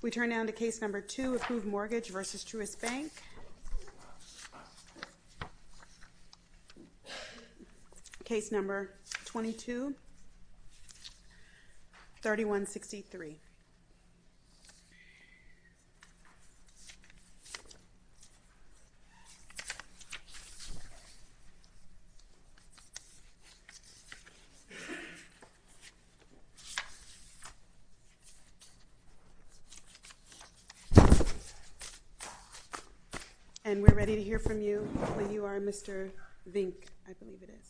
We turn now to case number two, Approved Mortgage v. Truist Bank. Case number 22, 3163. And we're ready to hear from you. You are Mr. Vink, I believe it is.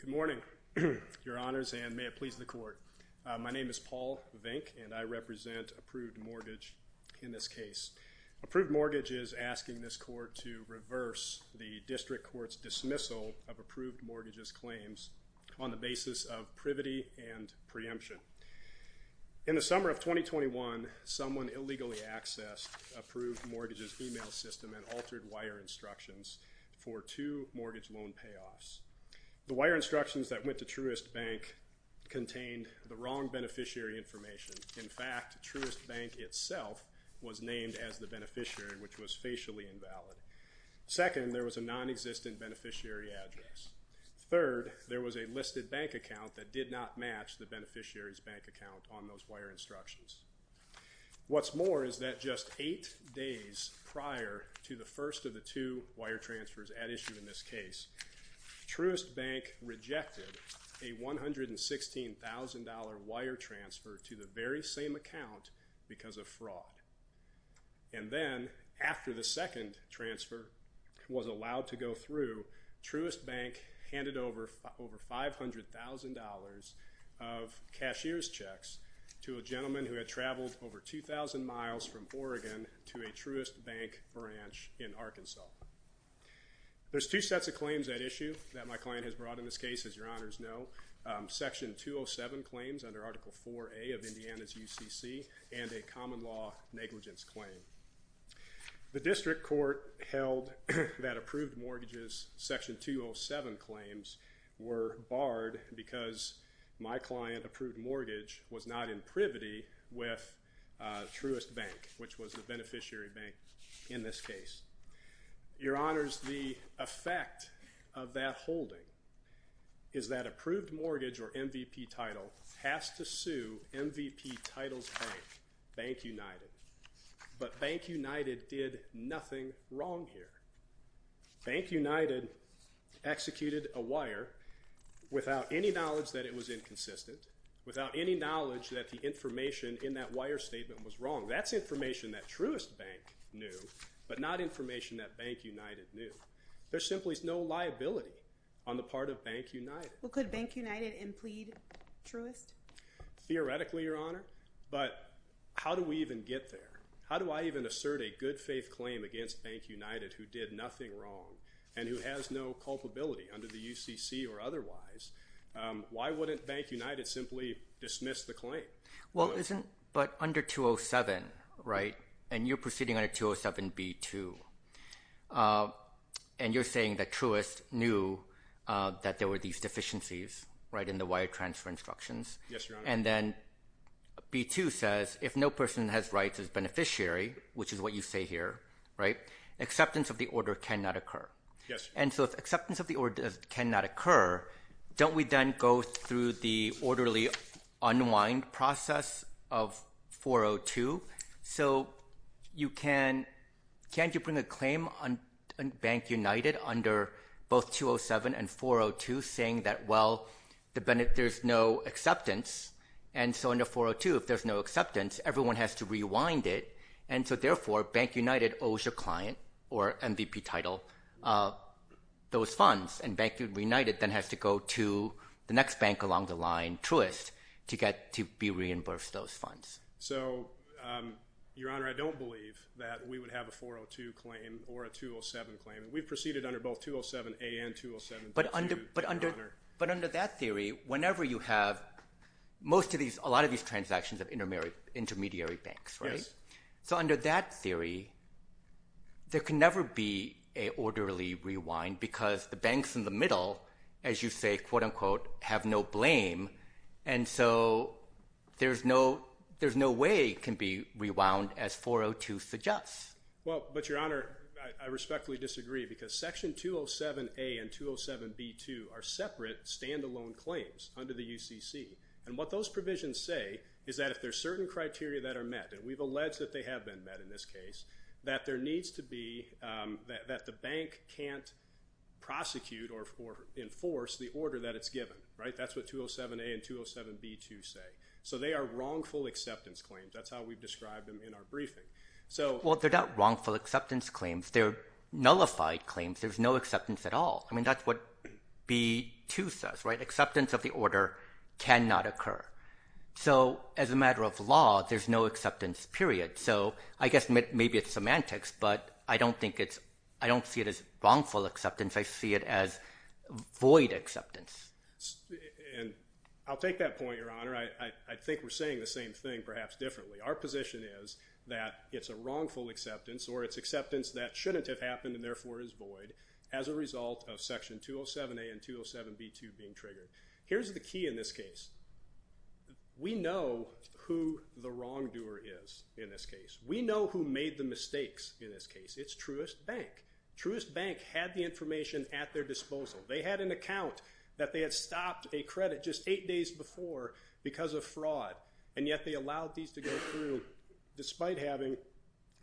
Good morning, your honors, and may it please the court. My name is Paul Vink, and I represent Approved Mortgage in this case. Approved Mortgage is asking this court to reverse the district court's dismissal of Approved Mortgage's claims on the basis of privity and preemption. In the summer of 2021, someone illegally accessed Approved Mortgage's email system and altered wire instructions for two mortgage loan payoffs. The wire instructions that went to Truist Bank contained the wrong beneficiary information. In fact, Truist Bank itself was named as the beneficiary, which was facially invalid. Second, there was a nonexistent beneficiary address. Third, there was a listed bank account that did not match the beneficiary's bank account on those wire instructions. What's more is that just eight days prior to the first of the two wire transfers at issue in this case, Truist Bank rejected a $116,000 wire transfer to the very same account because of fraud. And then, after the second transfer was allowed to go through, Truist Bank handed over $500,000 of cashier's checks to a gentleman who had traveled over 2,000 miles from Oregon to a Truist Bank branch in Arkansas. There's two sets of claims at issue that my client has brought in this case, as your honors know. Section 207 claims under Article 4A of Indiana's UCC and a common law negligence claim. The district court held that Approved Mortgage's Section 207 claims were barred because my client, Approved Mortgage, was not in privity with Truist Bank, which was the beneficiary bank in this case. Your honors, the effect of that holding is that Approved Mortgage, or MVP Title, has to sue MVP Title's bank, Bank United. But Bank United did nothing wrong here. Bank United executed a wire without any knowledge that it was inconsistent, without any knowledge that the information in that wire statement was wrong. That's information that Truist Bank knew, but not information that Bank United knew. There simply is no liability on the part of Bank United. Well, could Bank United implead Truist? Theoretically, your honor, but how do we even get there? How do I even assert a good-faith claim against Bank United, who did nothing wrong, and who has no culpability under the UCC or otherwise? Why wouldn't Bank United simply dismiss the claim? Well, but under 207, right, and you're proceeding under 207B2, and you're saying that Truist knew that there were these deficiencies, right, in the wire transfer instructions. Yes, your honor. And then B2 says, if no person has rights as beneficiary, which is what you say here, right, acceptance of the order cannot occur. Yes, your honor. And so if acceptance of the order cannot occur, don't we then go through the orderly unwind process of 402? So can't you bring a claim on Bank United under both 207 and 402 saying that, well, there's no acceptance? And so under 402, if there's no acceptance, everyone has to rewind it, and so therefore Bank United owes your client or MVP title those funds, and Bank United then has to go to the next bank along the line, Truist, to be reimbursed those funds. So, your honor, I don't believe that we would have a 402 claim or a 207 claim. We've proceeded under both 207A and 207B2, your honor. But under that theory, whenever you have most of these, a lot of these transactions of intermediary banks, right? Yes. So under that theory, there can never be an orderly rewind because the banks in the middle, as you say, quote, unquote, have no blame, and so there's no way it can be rewound as 402 suggests. Well, but, your honor, I respectfully disagree because Section 207A and 207B2 are separate, stand-alone claims under the UCC, and what those provisions say is that if there are certain criteria that are met, and we've alleged that they have been met in this case, that there needs to be that the bank can't prosecute or enforce the order that it's given, right? That's what 207A and 207B2 say. So they are wrongful acceptance claims. That's how we've described them in our briefing. Well, they're not wrongful acceptance claims. They're nullified claims. There's no acceptance at all. I mean, that's what B2 says, right? Acceptance of the order cannot occur. So as a matter of law, there's no acceptance, period. So I guess maybe it's semantics, but I don't think it's – I don't see it as wrongful acceptance. I see it as void acceptance. And I'll take that point, your honor. I think we're saying the same thing, perhaps differently. Our position is that it's a wrongful acceptance or it's acceptance that shouldn't have happened and therefore is void as a result of Section 207A and 207B2 being triggered. Here's the key in this case. We know who the wrongdoer is in this case. We know who made the mistakes in this case. It's Truist Bank. Truist Bank had the information at their disposal. They had an account that they had stopped a credit just eight days before because of fraud, and yet they allowed these to go through despite having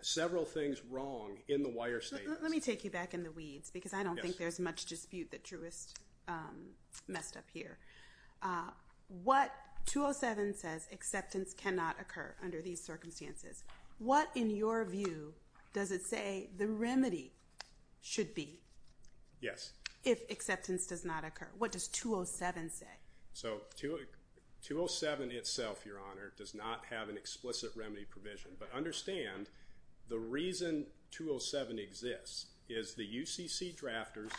several things wrong in the wire statements. Let me take you back in the weeds because I don't think there's much dispute that Truist messed up here. What – 207 says acceptance cannot occur under these circumstances. What, in your view, does it say the remedy should be if acceptance does not occur? What does 207 say? So 207 itself, Your Honor, does not have an explicit remedy provision, but understand the reason 207 exists is the UCC drafters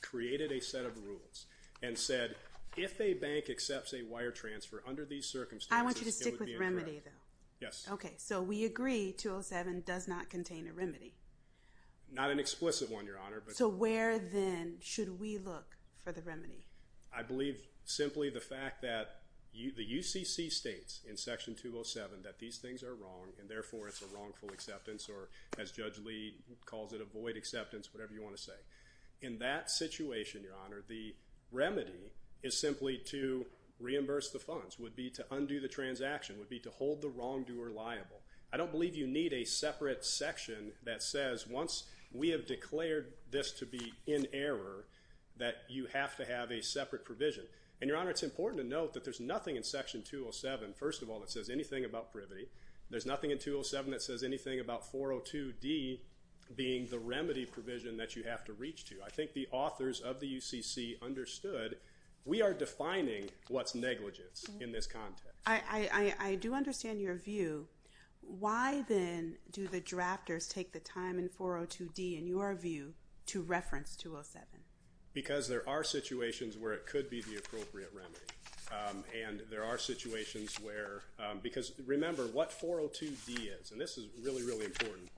created a set of rules and said if a bank accepts a wire transfer under these circumstances, it would be a draft. I want you to stick with remedy, though. Yes. Okay, so we agree 207 does not contain a remedy. Not an explicit one, Your Honor. So where then should we look for the remedy? I believe simply the fact that the UCC states in Section 207 that these things are wrong and therefore it's a wrongful acceptance or, as Judge Lee calls it, a void acceptance, whatever you want to say. In that situation, Your Honor, the remedy is simply to reimburse the funds, would be to undo the transaction, would be to hold the wrongdoer liable. I don't believe you need a separate section that says once we have declared this to be in error that you have to have a separate provision. And, Your Honor, it's important to note that there's nothing in Section 207, first of all, that says anything about privity. There's nothing in 207 that says anything about 402D being the remedy provision that you have to reach to. I think the authors of the UCC understood we are defining what's negligence in this context. I do understand your view. Why, then, do the drafters take the time in 402D, in your view, to reference 207? Because there are situations where it could be the appropriate remedy. And there are situations where – because remember what 402D is, and this is really, really important.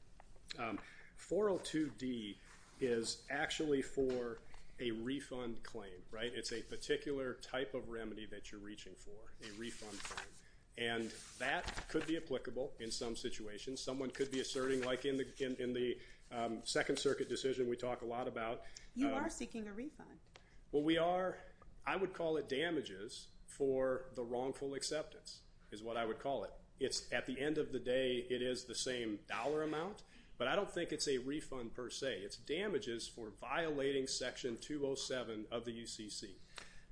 402D is actually for a refund claim, right? It's a particular type of remedy that you're reaching for, a refund claim. And that could be applicable in some situations. Someone could be asserting like in the Second Circuit decision we talk a lot about. You are seeking a refund. Well, we are. I would call it damages for the wrongful acceptance is what I would call it. At the end of the day, it is the same dollar amount, but I don't think it's a refund per se. It's damages for violating Section 207 of the UCC.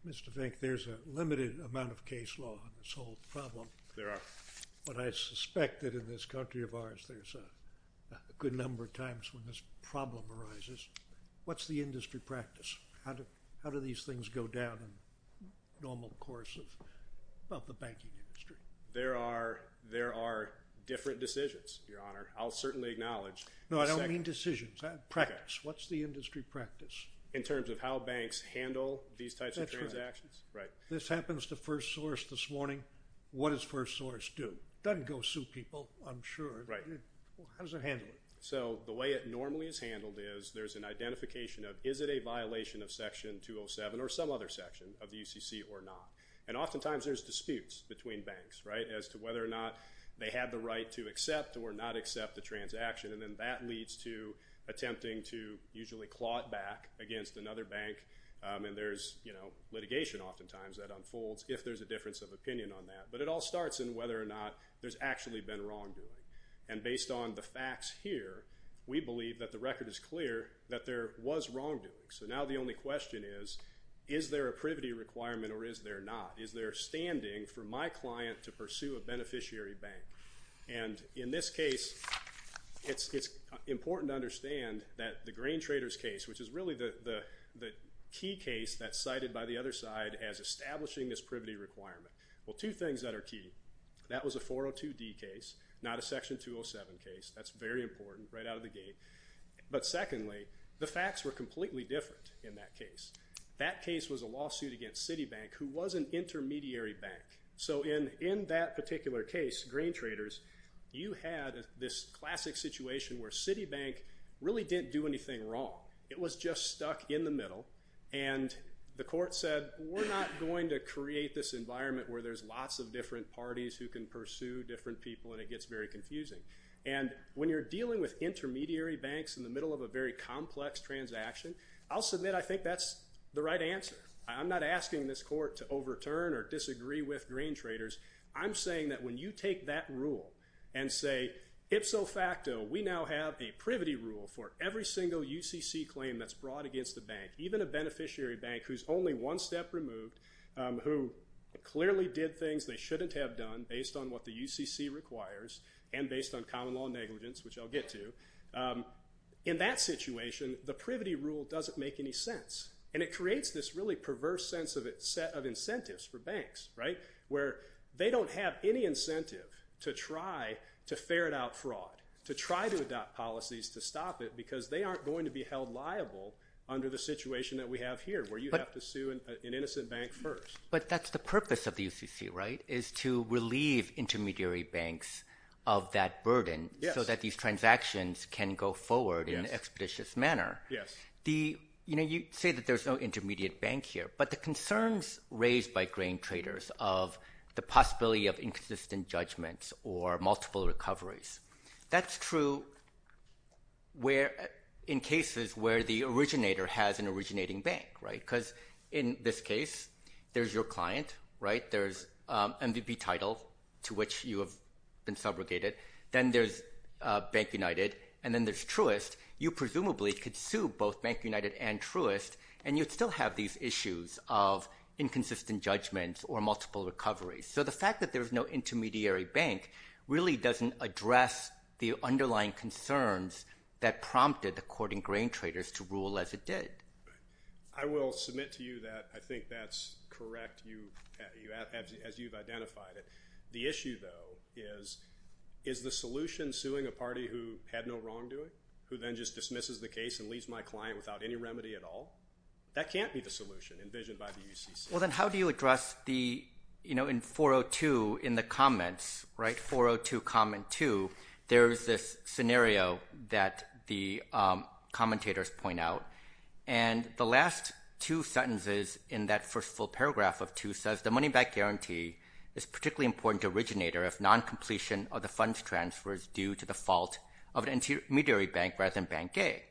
Mr. Fink, there's a limited amount of case law in this whole problem. There are. But I suspect that in this country of ours, there's a good number of times when this problem arises. What's the industry practice? How do these things go down in the normal course of the banking industry? There are different decisions, Your Honor. I'll certainly acknowledge. No, I don't mean decisions. Practice. What's the industry practice? In terms of how banks handle these types of transactions. That's right. This happens to First Source this morning. What does First Source do? It doesn't go sue people, I'm sure. How does it handle it? So the way it normally is handled is there's an identification of is it a violation of Section 207 or some other section of the UCC or not. And oftentimes there's disputes between banks as to whether or not they have the right to accept or not accept the transaction. And then that leads to attempting to usually claw it back against another bank. And there's litigation oftentimes that unfolds if there's a difference of opinion on that. But it all starts in whether or not there's actually been wrongdoing. And based on the facts here, we believe that the record is clear that there was wrongdoing. So now the only question is, is there a privity requirement or is there not? Is there standing for my client to pursue a beneficiary bank? And in this case, it's important to understand that the Grain Traders case, which is really the key case that's cited by the other side as establishing this privity requirement. Well, two things that are key. That was a 402D case, not a Section 207 case. That's very important, right out of the gate. But secondly, the facts were completely different in that case. That case was a lawsuit against Citibank, who was an intermediary bank. So in that particular case, Grain Traders, you had this classic situation where Citibank really didn't do anything wrong. It was just stuck in the middle, and the court said, we're not going to create this environment where there's lots of different parties who can pursue different people, and it gets very confusing. And when you're dealing with intermediary banks in the middle of a very complex transaction, I'll submit I think that's the right answer. I'm not asking this court to overturn or disagree with Grain Traders. I'm saying that when you take that rule and say, ipso facto, we now have a privity rule for every single UCC claim that's brought against the bank, even a beneficiary bank who's only one step removed, who clearly did things they shouldn't have done based on what the UCC requires and based on common law negligence, which I'll get to. In that situation, the privity rule doesn't make any sense, and it creates this really perverse sense of incentives for banks, right, where they don't have any incentive to try to ferret out fraud, to try to adopt policies to stop it because they aren't going to be held liable under the situation that we have here, where you have to sue an innocent bank first. But that's the purpose of the UCC, right, is to relieve intermediary banks of that burden so that these transactions can go forward in an expeditious manner. Yes. You know, you say that there's no intermediate bank here, but the concerns raised by Grain Traders of the possibility of inconsistent judgments or multiple recoveries, that's true in cases where the originator has an originating bank, right, because in this case, there's your client, right? There's an MVP title to which you have been subrogated. Then there's Bank United, and then there's Truist. You presumably could sue both Bank United and Truist, and you'd still have these issues of inconsistent judgments or multiple recoveries. So the fact that there's no intermediary bank really doesn't address the underlying concerns that prompted the court in Grain Traders to rule as it did. I will submit to you that I think that's correct as you've identified it. The issue, though, is is the solution suing a party who had no wrongdoing, who then just dismisses the case and leaves my client without any remedy at all? That can't be the solution envisioned by the UCC. Well, then how do you address the, you know, in 402 in the comments, right, 402 comment 2, there is this scenario that the commentators point out, and the last two sentences in that first full paragraph of 2 says, The money-back guarantee is particularly important to originator if non-completion of the funds transfer is due to the fault of an intermediary bank rather than Bank A.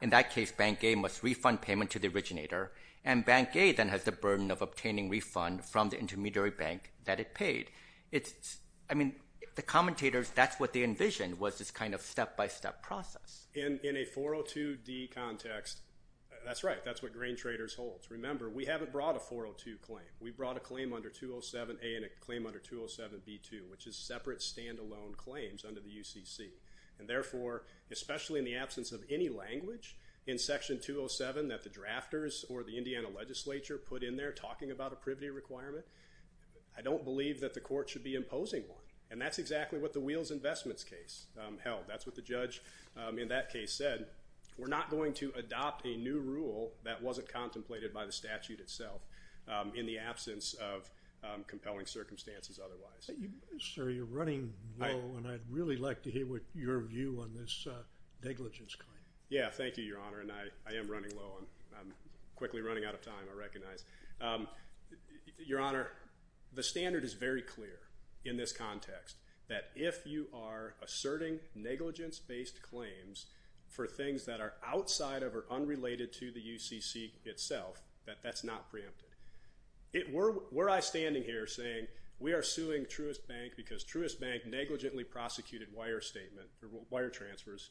In that case, Bank A must refund payment to the originator, and Bank A then has the burden of obtaining refund from the intermediary bank that it paid. I mean, the commentators, that's what they envisioned was this kind of step-by-step process. In a 402d context, that's right. That's what Grain Traders holds. Remember, we haven't brought a 402 claim. We brought a claim under 207a and a claim under 207b2, which is separate stand-alone claims under the UCC. And therefore, especially in the absence of any language in Section 207 that the drafters or the Indiana legislature put in there talking about a privity requirement, I don't believe that the court should be imposing one. And that's exactly what the Wheels Investments case held. That's what the judge in that case said. We're not going to adopt a new rule that wasn't contemplated by the statute itself in the absence of compelling circumstances otherwise. Sir, you're running low, and I'd really like to hear your view on this negligence claim. Yeah, thank you, Your Honor, and I am running low. I'm quickly running out of time, I recognize. Your Honor, the standard is very clear in this context, that if you are asserting negligence-based claims for things that are outside of or unrelated to the UCC itself, that that's not preempted. Were I standing here saying we are suing Truist Bank because Truist Bank negligently prosecuted wire transfers,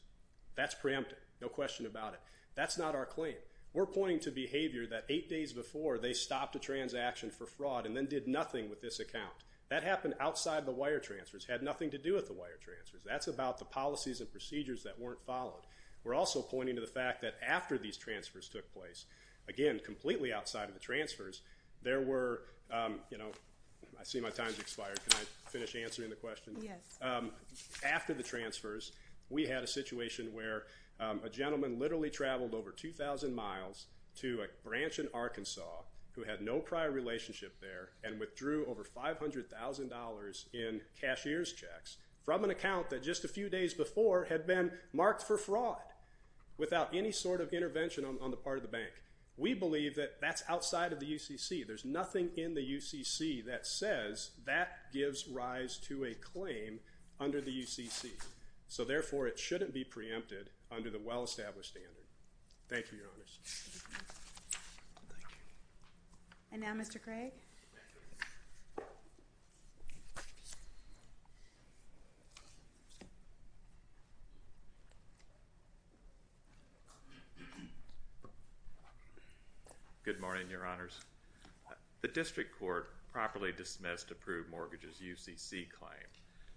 that's preempted, no question about it. That's not our claim. We're pointing to behavior that eight days before they stopped a transaction for fraud and then did nothing with this account. That happened outside the wire transfers, had nothing to do with the wire transfers. That's about the policies and procedures that weren't followed. We're also pointing to the fact that after these transfers took place, again, completely outside of the transfers, there were, you know, I see my time's expired. Can I finish answering the question? Yes. After the transfers, we had a situation where a gentleman literally traveled over 2,000 miles to a branch in Arkansas who had no prior relationship there and withdrew over $500,000 in cashier's checks from an account that just a few days before had been marked for fraud without any sort of intervention on the part of the bank. We believe that that's outside of the UCC. There's nothing in the UCC that says that gives rise to a claim under the UCC. So, therefore, it shouldn't be preempted under the well-established standard. Thank you, Your Honors. Thank you. And now Mr. Craig. Good morning, Your Honors. The district court properly dismissed approved mortgages UCC claim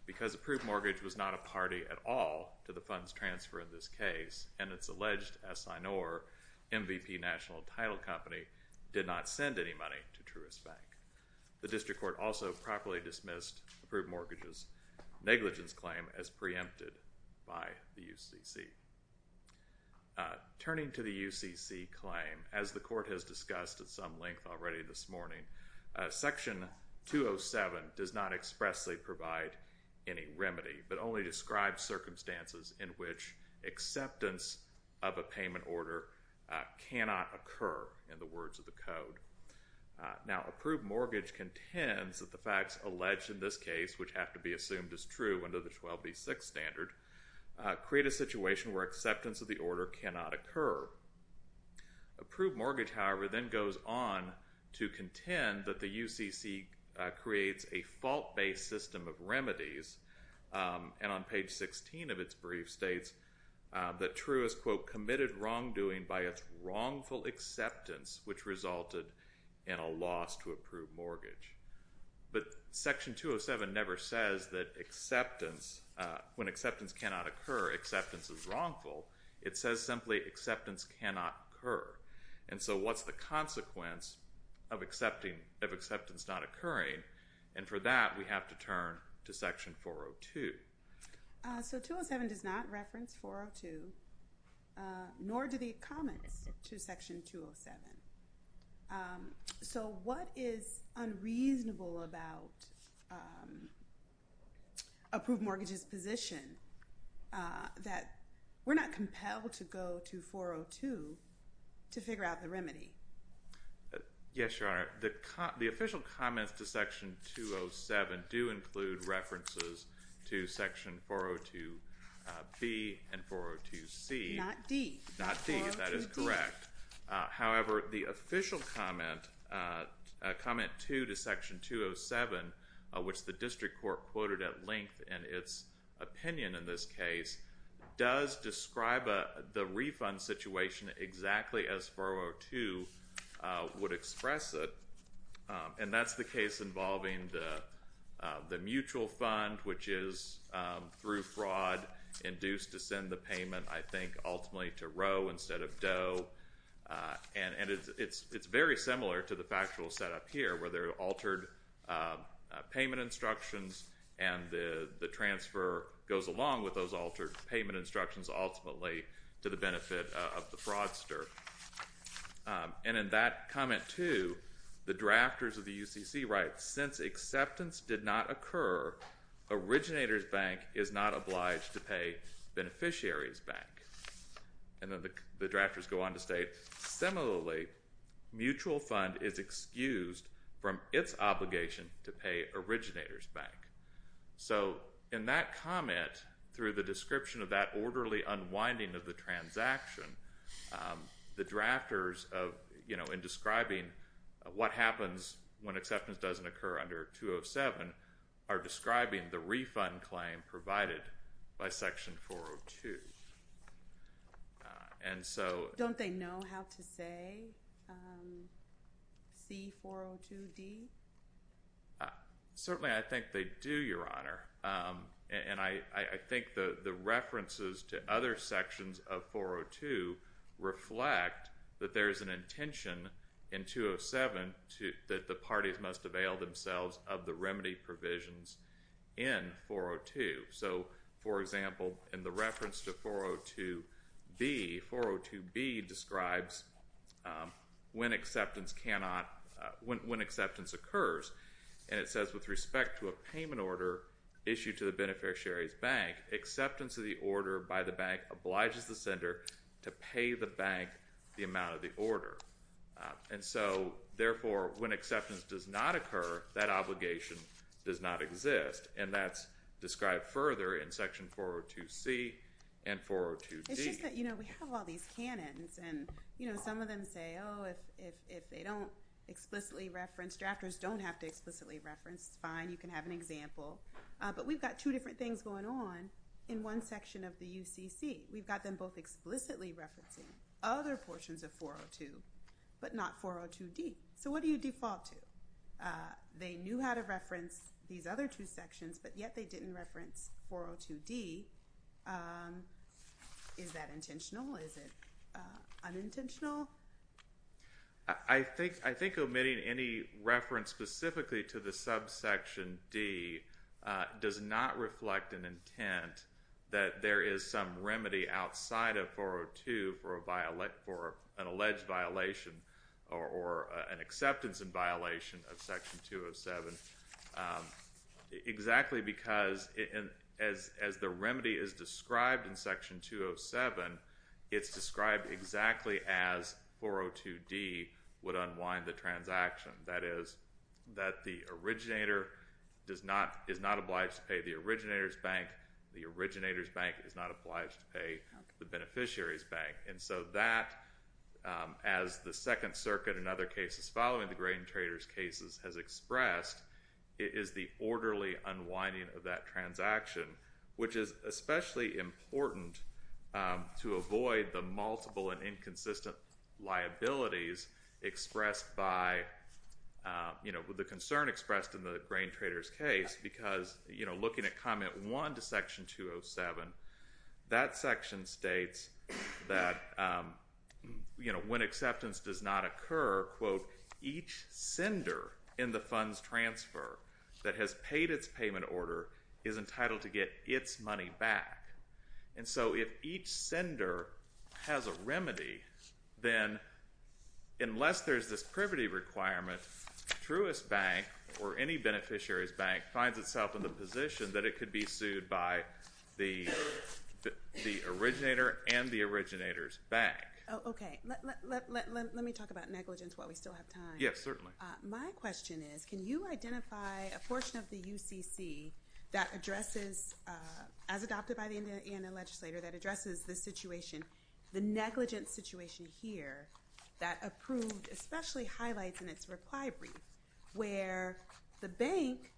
because approved mortgage was not a party at all to the funds transfer in this case and its alleged assignor, MVP National Title Company, did not send any money to Truist Bank. The district court also properly dismissed approved mortgages negligence claim as preempted by the UCC. Turning to the UCC claim, as the court has discussed at some length already this morning, Section 207 does not expressly provide any remedy but only describes circumstances in which acceptance of a payment order cannot occur in the words of the code. Now, approved mortgage contends that the facts alleged in this case, which have to be assumed as true under the 12B6 standard, create a situation where acceptance of the order cannot occur. Approved mortgage, however, then goes on to contend that the UCC creates a fault-based system of remedies, and on page 16 of its brief states that Truist, quote, committed wrongdoing by its wrongful acceptance, which resulted in a loss to approved mortgage. But Section 207 never says that acceptance, when acceptance cannot occur, acceptance is wrongful. It says simply acceptance cannot occur. And so what's the consequence of acceptance not occurring? And for that, we have to turn to Section 402. So 207 does not reference 402, nor do the comments to Section 207. So what is unreasonable about approved mortgages' position that we're not compelled to go to 402 to figure out the remedy? Yes, Your Honor. The official comments to Section 207 do include references to Section 402B and 402C. Not D. Not D, that is correct. However, the official comment, comment 2 to Section 207, which the district court quoted at length in its opinion in this case, does describe the refund situation exactly as 402 would express it, and that's the case involving the mutual fund, which is through fraud induced to send the payment, I think, ultimately to Roe instead of Doe. And it's very similar to the factual setup here, where there are altered payment instructions and the transfer goes along with those altered payment instructions ultimately to the benefit of the fraudster. And in that comment 2, the drafters of the UCC write, since acceptance did not occur, originator's bank is not obliged to pay beneficiary's bank. And then the drafters go on to state, similarly, mutual fund is excused from its obligation to pay originator's bank. So in that comment, through the description of that orderly unwinding of the transaction, the drafters of, you know, in describing what happens when acceptance doesn't occur under 207, are describing the refund claim provided by Section 402. And so… Don't they know how to say C402D? Certainly, I think they do, Your Honor. And I think the references to other sections of 402 reflect that there is an intention in 207 that the parties must avail themselves of the remedy provisions in 402. So, for example, in the reference to 402B, 402B describes when acceptance occurs. And it says, with respect to a payment order issued to the beneficiary's bank, acceptance of the order by the bank obliges the sender to pay the bank the amount of the order. And so, therefore, when acceptance does not occur, that obligation does not exist. And that's described further in Section 402C and 402D. It's just that, you know, we have all these canons. And, you know, some of them say, oh, if they don't explicitly reference, drafters don't have to explicitly reference, it's fine. You can have an example. But we've got two different things going on in one section of the UCC. We've got them both explicitly referencing other portions of 402, but not 402D. So what do you default to? They knew how to reference these other two sections, but yet they didn't reference 402D. Is that intentional? Is it unintentional? I think omitting any reference specifically to the subsection D does not reflect an intent that there is some remedy outside of 402 for an alleged violation or an acceptance in violation of Section 207, exactly because as the remedy is described in Section 207, it's described exactly as 402D would unwind the transaction. That is, that the originator is not obliged to pay the originator's bank. The originator's bank is not obliged to pay the beneficiary's bank. So that, as the Second Circuit in other cases following the grain traders cases has expressed, it is the orderly unwinding of that transaction, which is especially important to avoid the multiple and inconsistent liabilities expressed by the concern expressed in the grain traders case because looking at Comment 1 to Section 207, that section states that when acceptance does not occur, quote, each sender in the funds transfer that has paid its payment order is entitled to get its money back. And so if each sender has a remedy, then unless there's this privity requirement, Truist Bank or any beneficiary's bank finds itself in the position that it The originator and the originator's bank. Okay. Let me talk about negligence while we still have time. Yes, certainly. My question is, can you identify a portion of the UCC that addresses, as adopted by the Indiana legislator, that addresses the situation, the negligence situation here, that approved especially highlights in its reply brief where the bank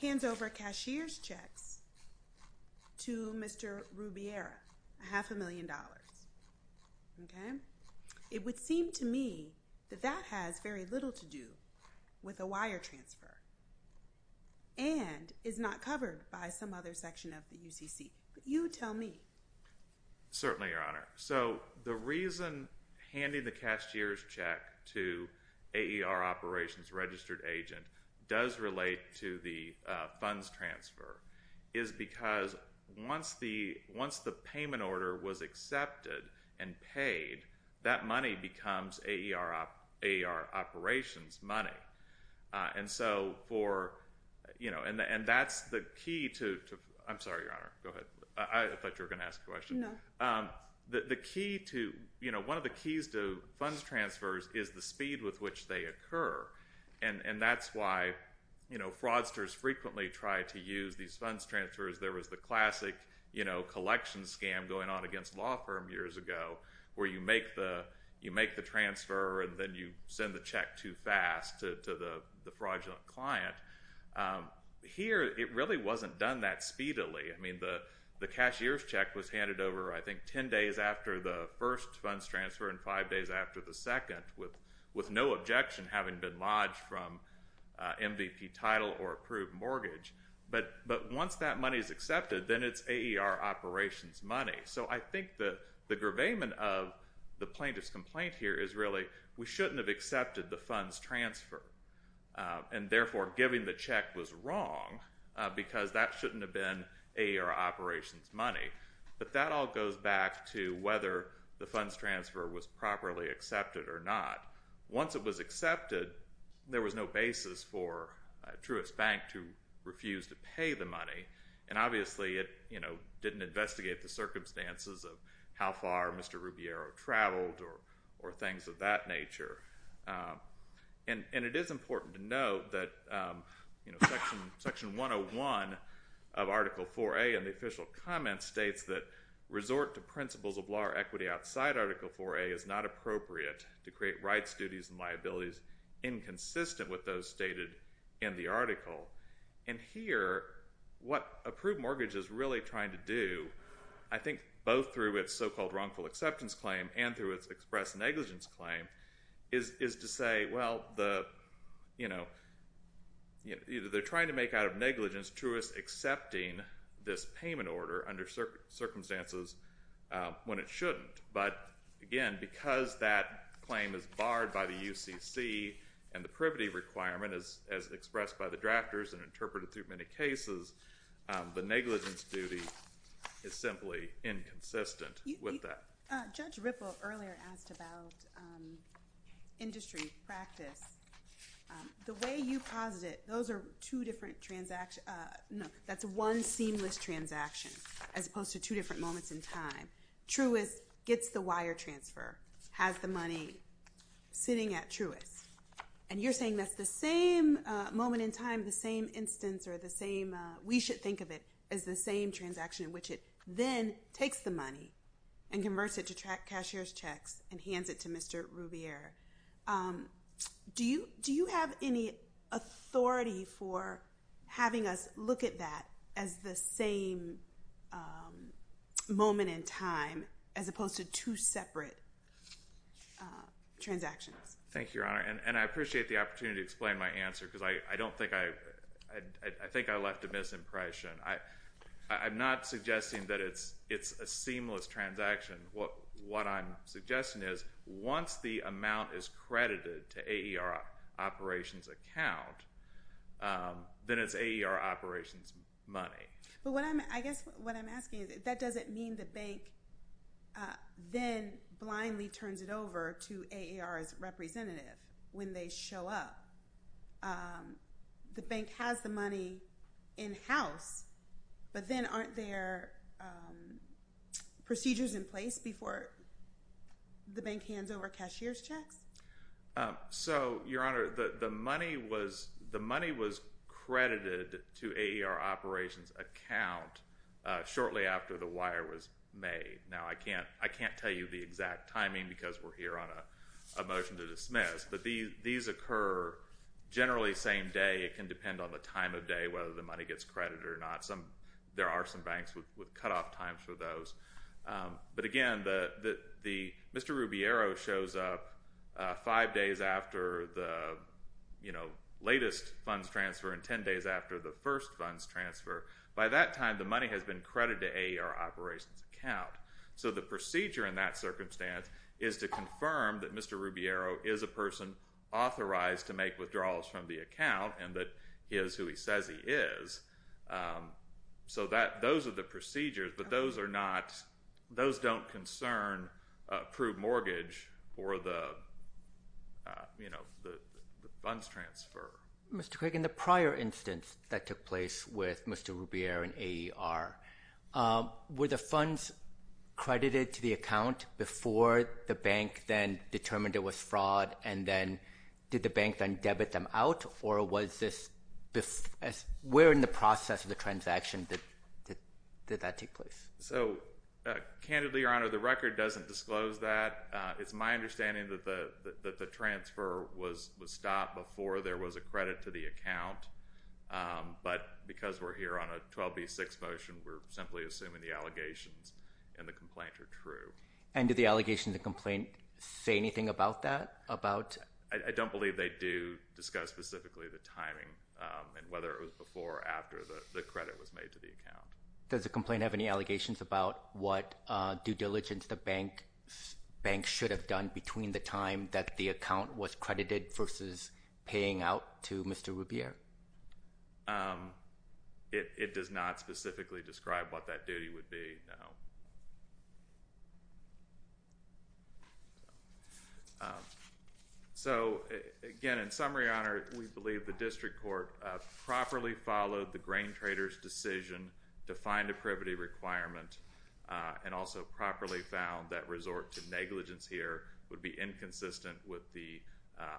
hands over cashier's checks to Mr. Rubiera, a half a million dollars. Okay. It would seem to me that that has very little to do with a wire transfer and is not covered by some other section of the UCC. But you tell me. Certainly, Your Honor. So the reason handing the cashier's check to AER operations registered agent does relate to the funds transfer is because once the payment order was accepted and paid, that money becomes AER operations money. And so for, you know, and that's the key to, I'm sorry, Your Honor. Go ahead. I thought you were going to ask a question. No. The key to, you know, one of the keys to funds transfers is the speed with which they occur. And that's why, you know, fraudsters frequently try to use these funds transfers. There was the classic, you know, collection scam going on against a law firm years ago where you make the transfer and then you send the check too fast to the fraudulent client. Here, it really wasn't done that speedily. I mean, the cashier's check was handed over, I think, 10 days after the first funds transfer and 5 days after the second with no objection having been lodged from MVP title or approved mortgage. But once that money is accepted, then it's AER operations money. So I think the gravamen of the plaintiff's complaint here is really we shouldn't have accepted the funds transfer and, therefore, giving the check was wrong because that shouldn't have been AER operations money. But that all goes back to whether the funds transfer was properly accepted or not. Once it was accepted, there was no basis for Truist Bank to refuse to pay the money. And, obviously, it, you know, didn't investigate the circumstances of how far Mr. Rubiero traveled or things of that nature. And it is important to note that, you know, Section 101 of Article 4A in the official comment states that resort to principles of law or equity outside Article 4A is not appropriate to create rights, duties, and liabilities inconsistent with those stated in the article. And here, what approved mortgage is really trying to do, I think both through its so-called wrongful acceptance claim and through its express negligence claim, is to say, well, the, you know, they're trying to make out of negligence Truist accepting this payment order under circumstances when it shouldn't. But, again, because that claim is barred by the UCC and the privity requirement as expressed by the drafters and interpreted through many cases, the negligence duty is simply inconsistent with that. Judge Ripple earlier asked about industry practice. The way you paused it, those are two different transactions. No, that's one seamless transaction as opposed to two different moments in time. Truist gets the wire transfer, has the money sitting at Truist. And you're saying that's the same moment in time, the same instance, or the same, we should think of it as the same transaction in which it then takes the money and converts it to cashier's checks and hands it to Mr. Rubiero. Do you have any authority for having us look at that as the same moment in time as opposed to two separate transactions? Thank you, Your Honor. And I appreciate the opportunity to explain my answer because I don't think I, I think I left a misimpression. I'm not suggesting that it's a seamless transaction. What, what I'm suggesting is once the amount is credited to AER operations account, then it's AER operations money. But what I'm, I guess what I'm asking is, that doesn't mean the bank then blindly turns it over to AER's representative when they show up. The bank has the money in house, but then aren't there procedures in place before the bank hands over cashier's checks? So, Your Honor, the, the money was, the money was credited to AER operations account shortly after the wire was made. Now I can't, I can't tell you the exact timing because we're here on a, a motion to dismiss, but these, these occur generally same day. It can depend on the time of day, whether the money gets credited or not. Some, there are some banks with, with cutoff times for those. But again, the, the, the Mr. Rubiero shows up five days after the, you know, latest funds transfer and 10 days after the first funds transfer. By that time, the money has been credited to AER operations account. So the procedure in that circumstance is to confirm that Mr. Rubiero is a person that is who he says he is. So that, those are the procedures, but those are not, those don't concern approved mortgage for the, you know, the funds transfer. Mr. Craig, in the prior instance that took place with Mr. Rubiero and AER, were the funds credited to the account before the bank then determined it was where in the process of the transaction did that take place? So candidly, Your Honor, the record doesn't disclose that. It's my understanding that the, that the transfer was, was stopped before there was a credit to the account. But because we're here on a 12B6 motion, we're simply assuming the allegations and the complaint are true. And did the allegation, the complaint say anything about that? About? I don't believe they do discuss specifically the timing and whether it was before or after the credit was made to the account. Does the complaint have any allegations about what due diligence the bank, banks should have done between the time that the account was credited versus paying out to Mr. Rubiero? It does not specifically describe what that duty would be, no. So again, in summary, Your Honor, we believe the district court properly followed the grain trader's decision to find a privity requirement and also properly found that resort to negligence here would be inconsistent with the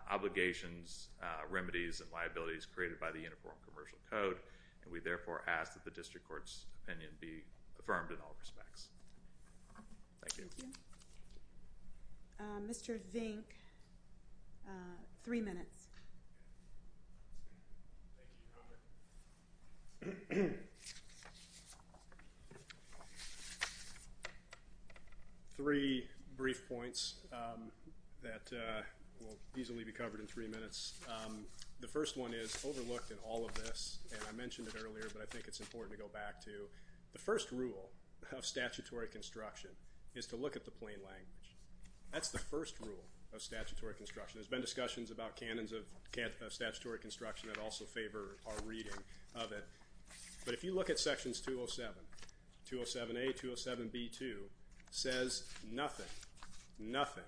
obligations, remedies, and liabilities created by the Uniform Commercial Code. And we therefore ask that the district court's opinion be affirmed in all respects. Thank you. Mr. Vink, three minutes. Three brief points that will easily be covered in three minutes. The first one is overlooked in all of this. And I mentioned it earlier, but I think it's important to go back to the first rule of statutory construction is to look at the plain language. That's the first rule of statutory construction has been discussions about cannons of statutory construction that also favor our reading of it. But if you look at sections 207, 207A, 207B2 says nothing, nothing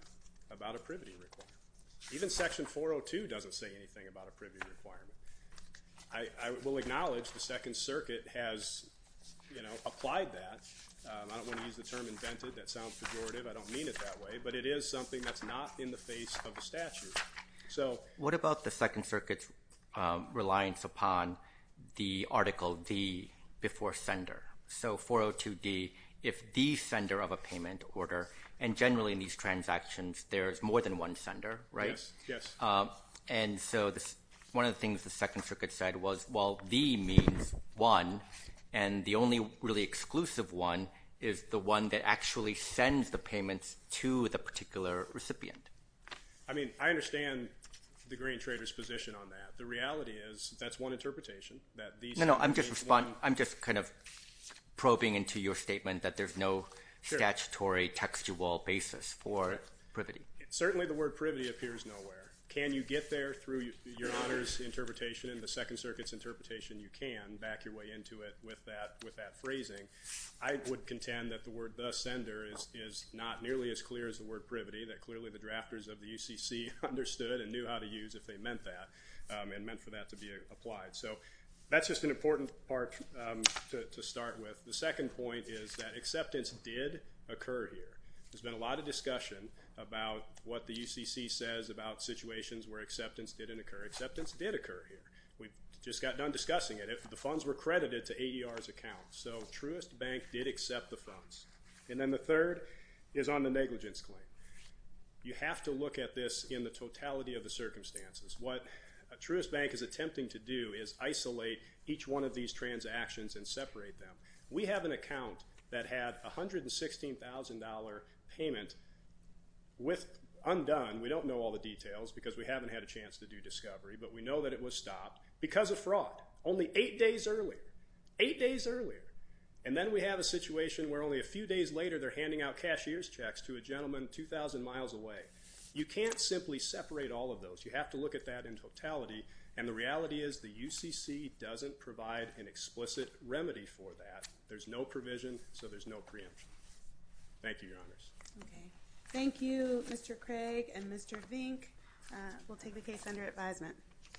about a privity requirement. Even section 402 doesn't say anything about a privity requirement. I will acknowledge the second circuit has, you know, applied that. I don't want to use the term invented. That sounds pejorative. I don't mean it that way, but it is something that's not in the face of the statute. So what about the second circuit's reliance upon the article D before sender? So 402D, if the sender of a payment order, and generally in these transactions, there's more than one sender, right? And so this, one of the things the second circuit said was, well, D means one. And the only really exclusive one is the one that actually sends the payments to the particular recipient. I mean, I understand the green traders position on that. The reality is that's one. Interpretation that these, no, no, I'm just responding. I'm just kind of probing into your statement that there's no statutory textual basis for privity. Certainly the word privity appears nowhere. Can you get there through your letters, interpretation in the second circuit's interpretation? You can back your way into it with that, with that phrasing. I would contend that the word the sender is, is not nearly as clear as the word privity that clearly the drafters of the UCC understood and knew how to use if they meant that and meant for that to be applied. So that's just an important part to start with. The second point is that acceptance did occur here. There's been a lot of discussion about what the UCC says about situations where acceptance did occur here. We just got done discussing it. If the funds were credited to AER's account. So Truist Bank did accept the funds. And then the third is on the negligence claim. You have to look at this in the totality of the circumstances. What a Truist Bank is attempting to do is isolate each one of these transactions and separate them. We have an account that had $116,000 payment with undone. We don't know all the details because we haven't had a chance to do discovery, but we know that it was stopped because of fraud. Only eight days earlier, eight days earlier. And then we have a situation where only a few days later, they're handing out cashier's checks to a gentleman, 2,000 miles away. You can't simply separate all of those. You have to look at that in totality. And the reality is the UCC doesn't provide an explicit remedy for that. There's no provision. So there's no preemption. Thank you, your honors. Thank you, Mr. Craig and Mr. Vink. We'll take the case under advisement.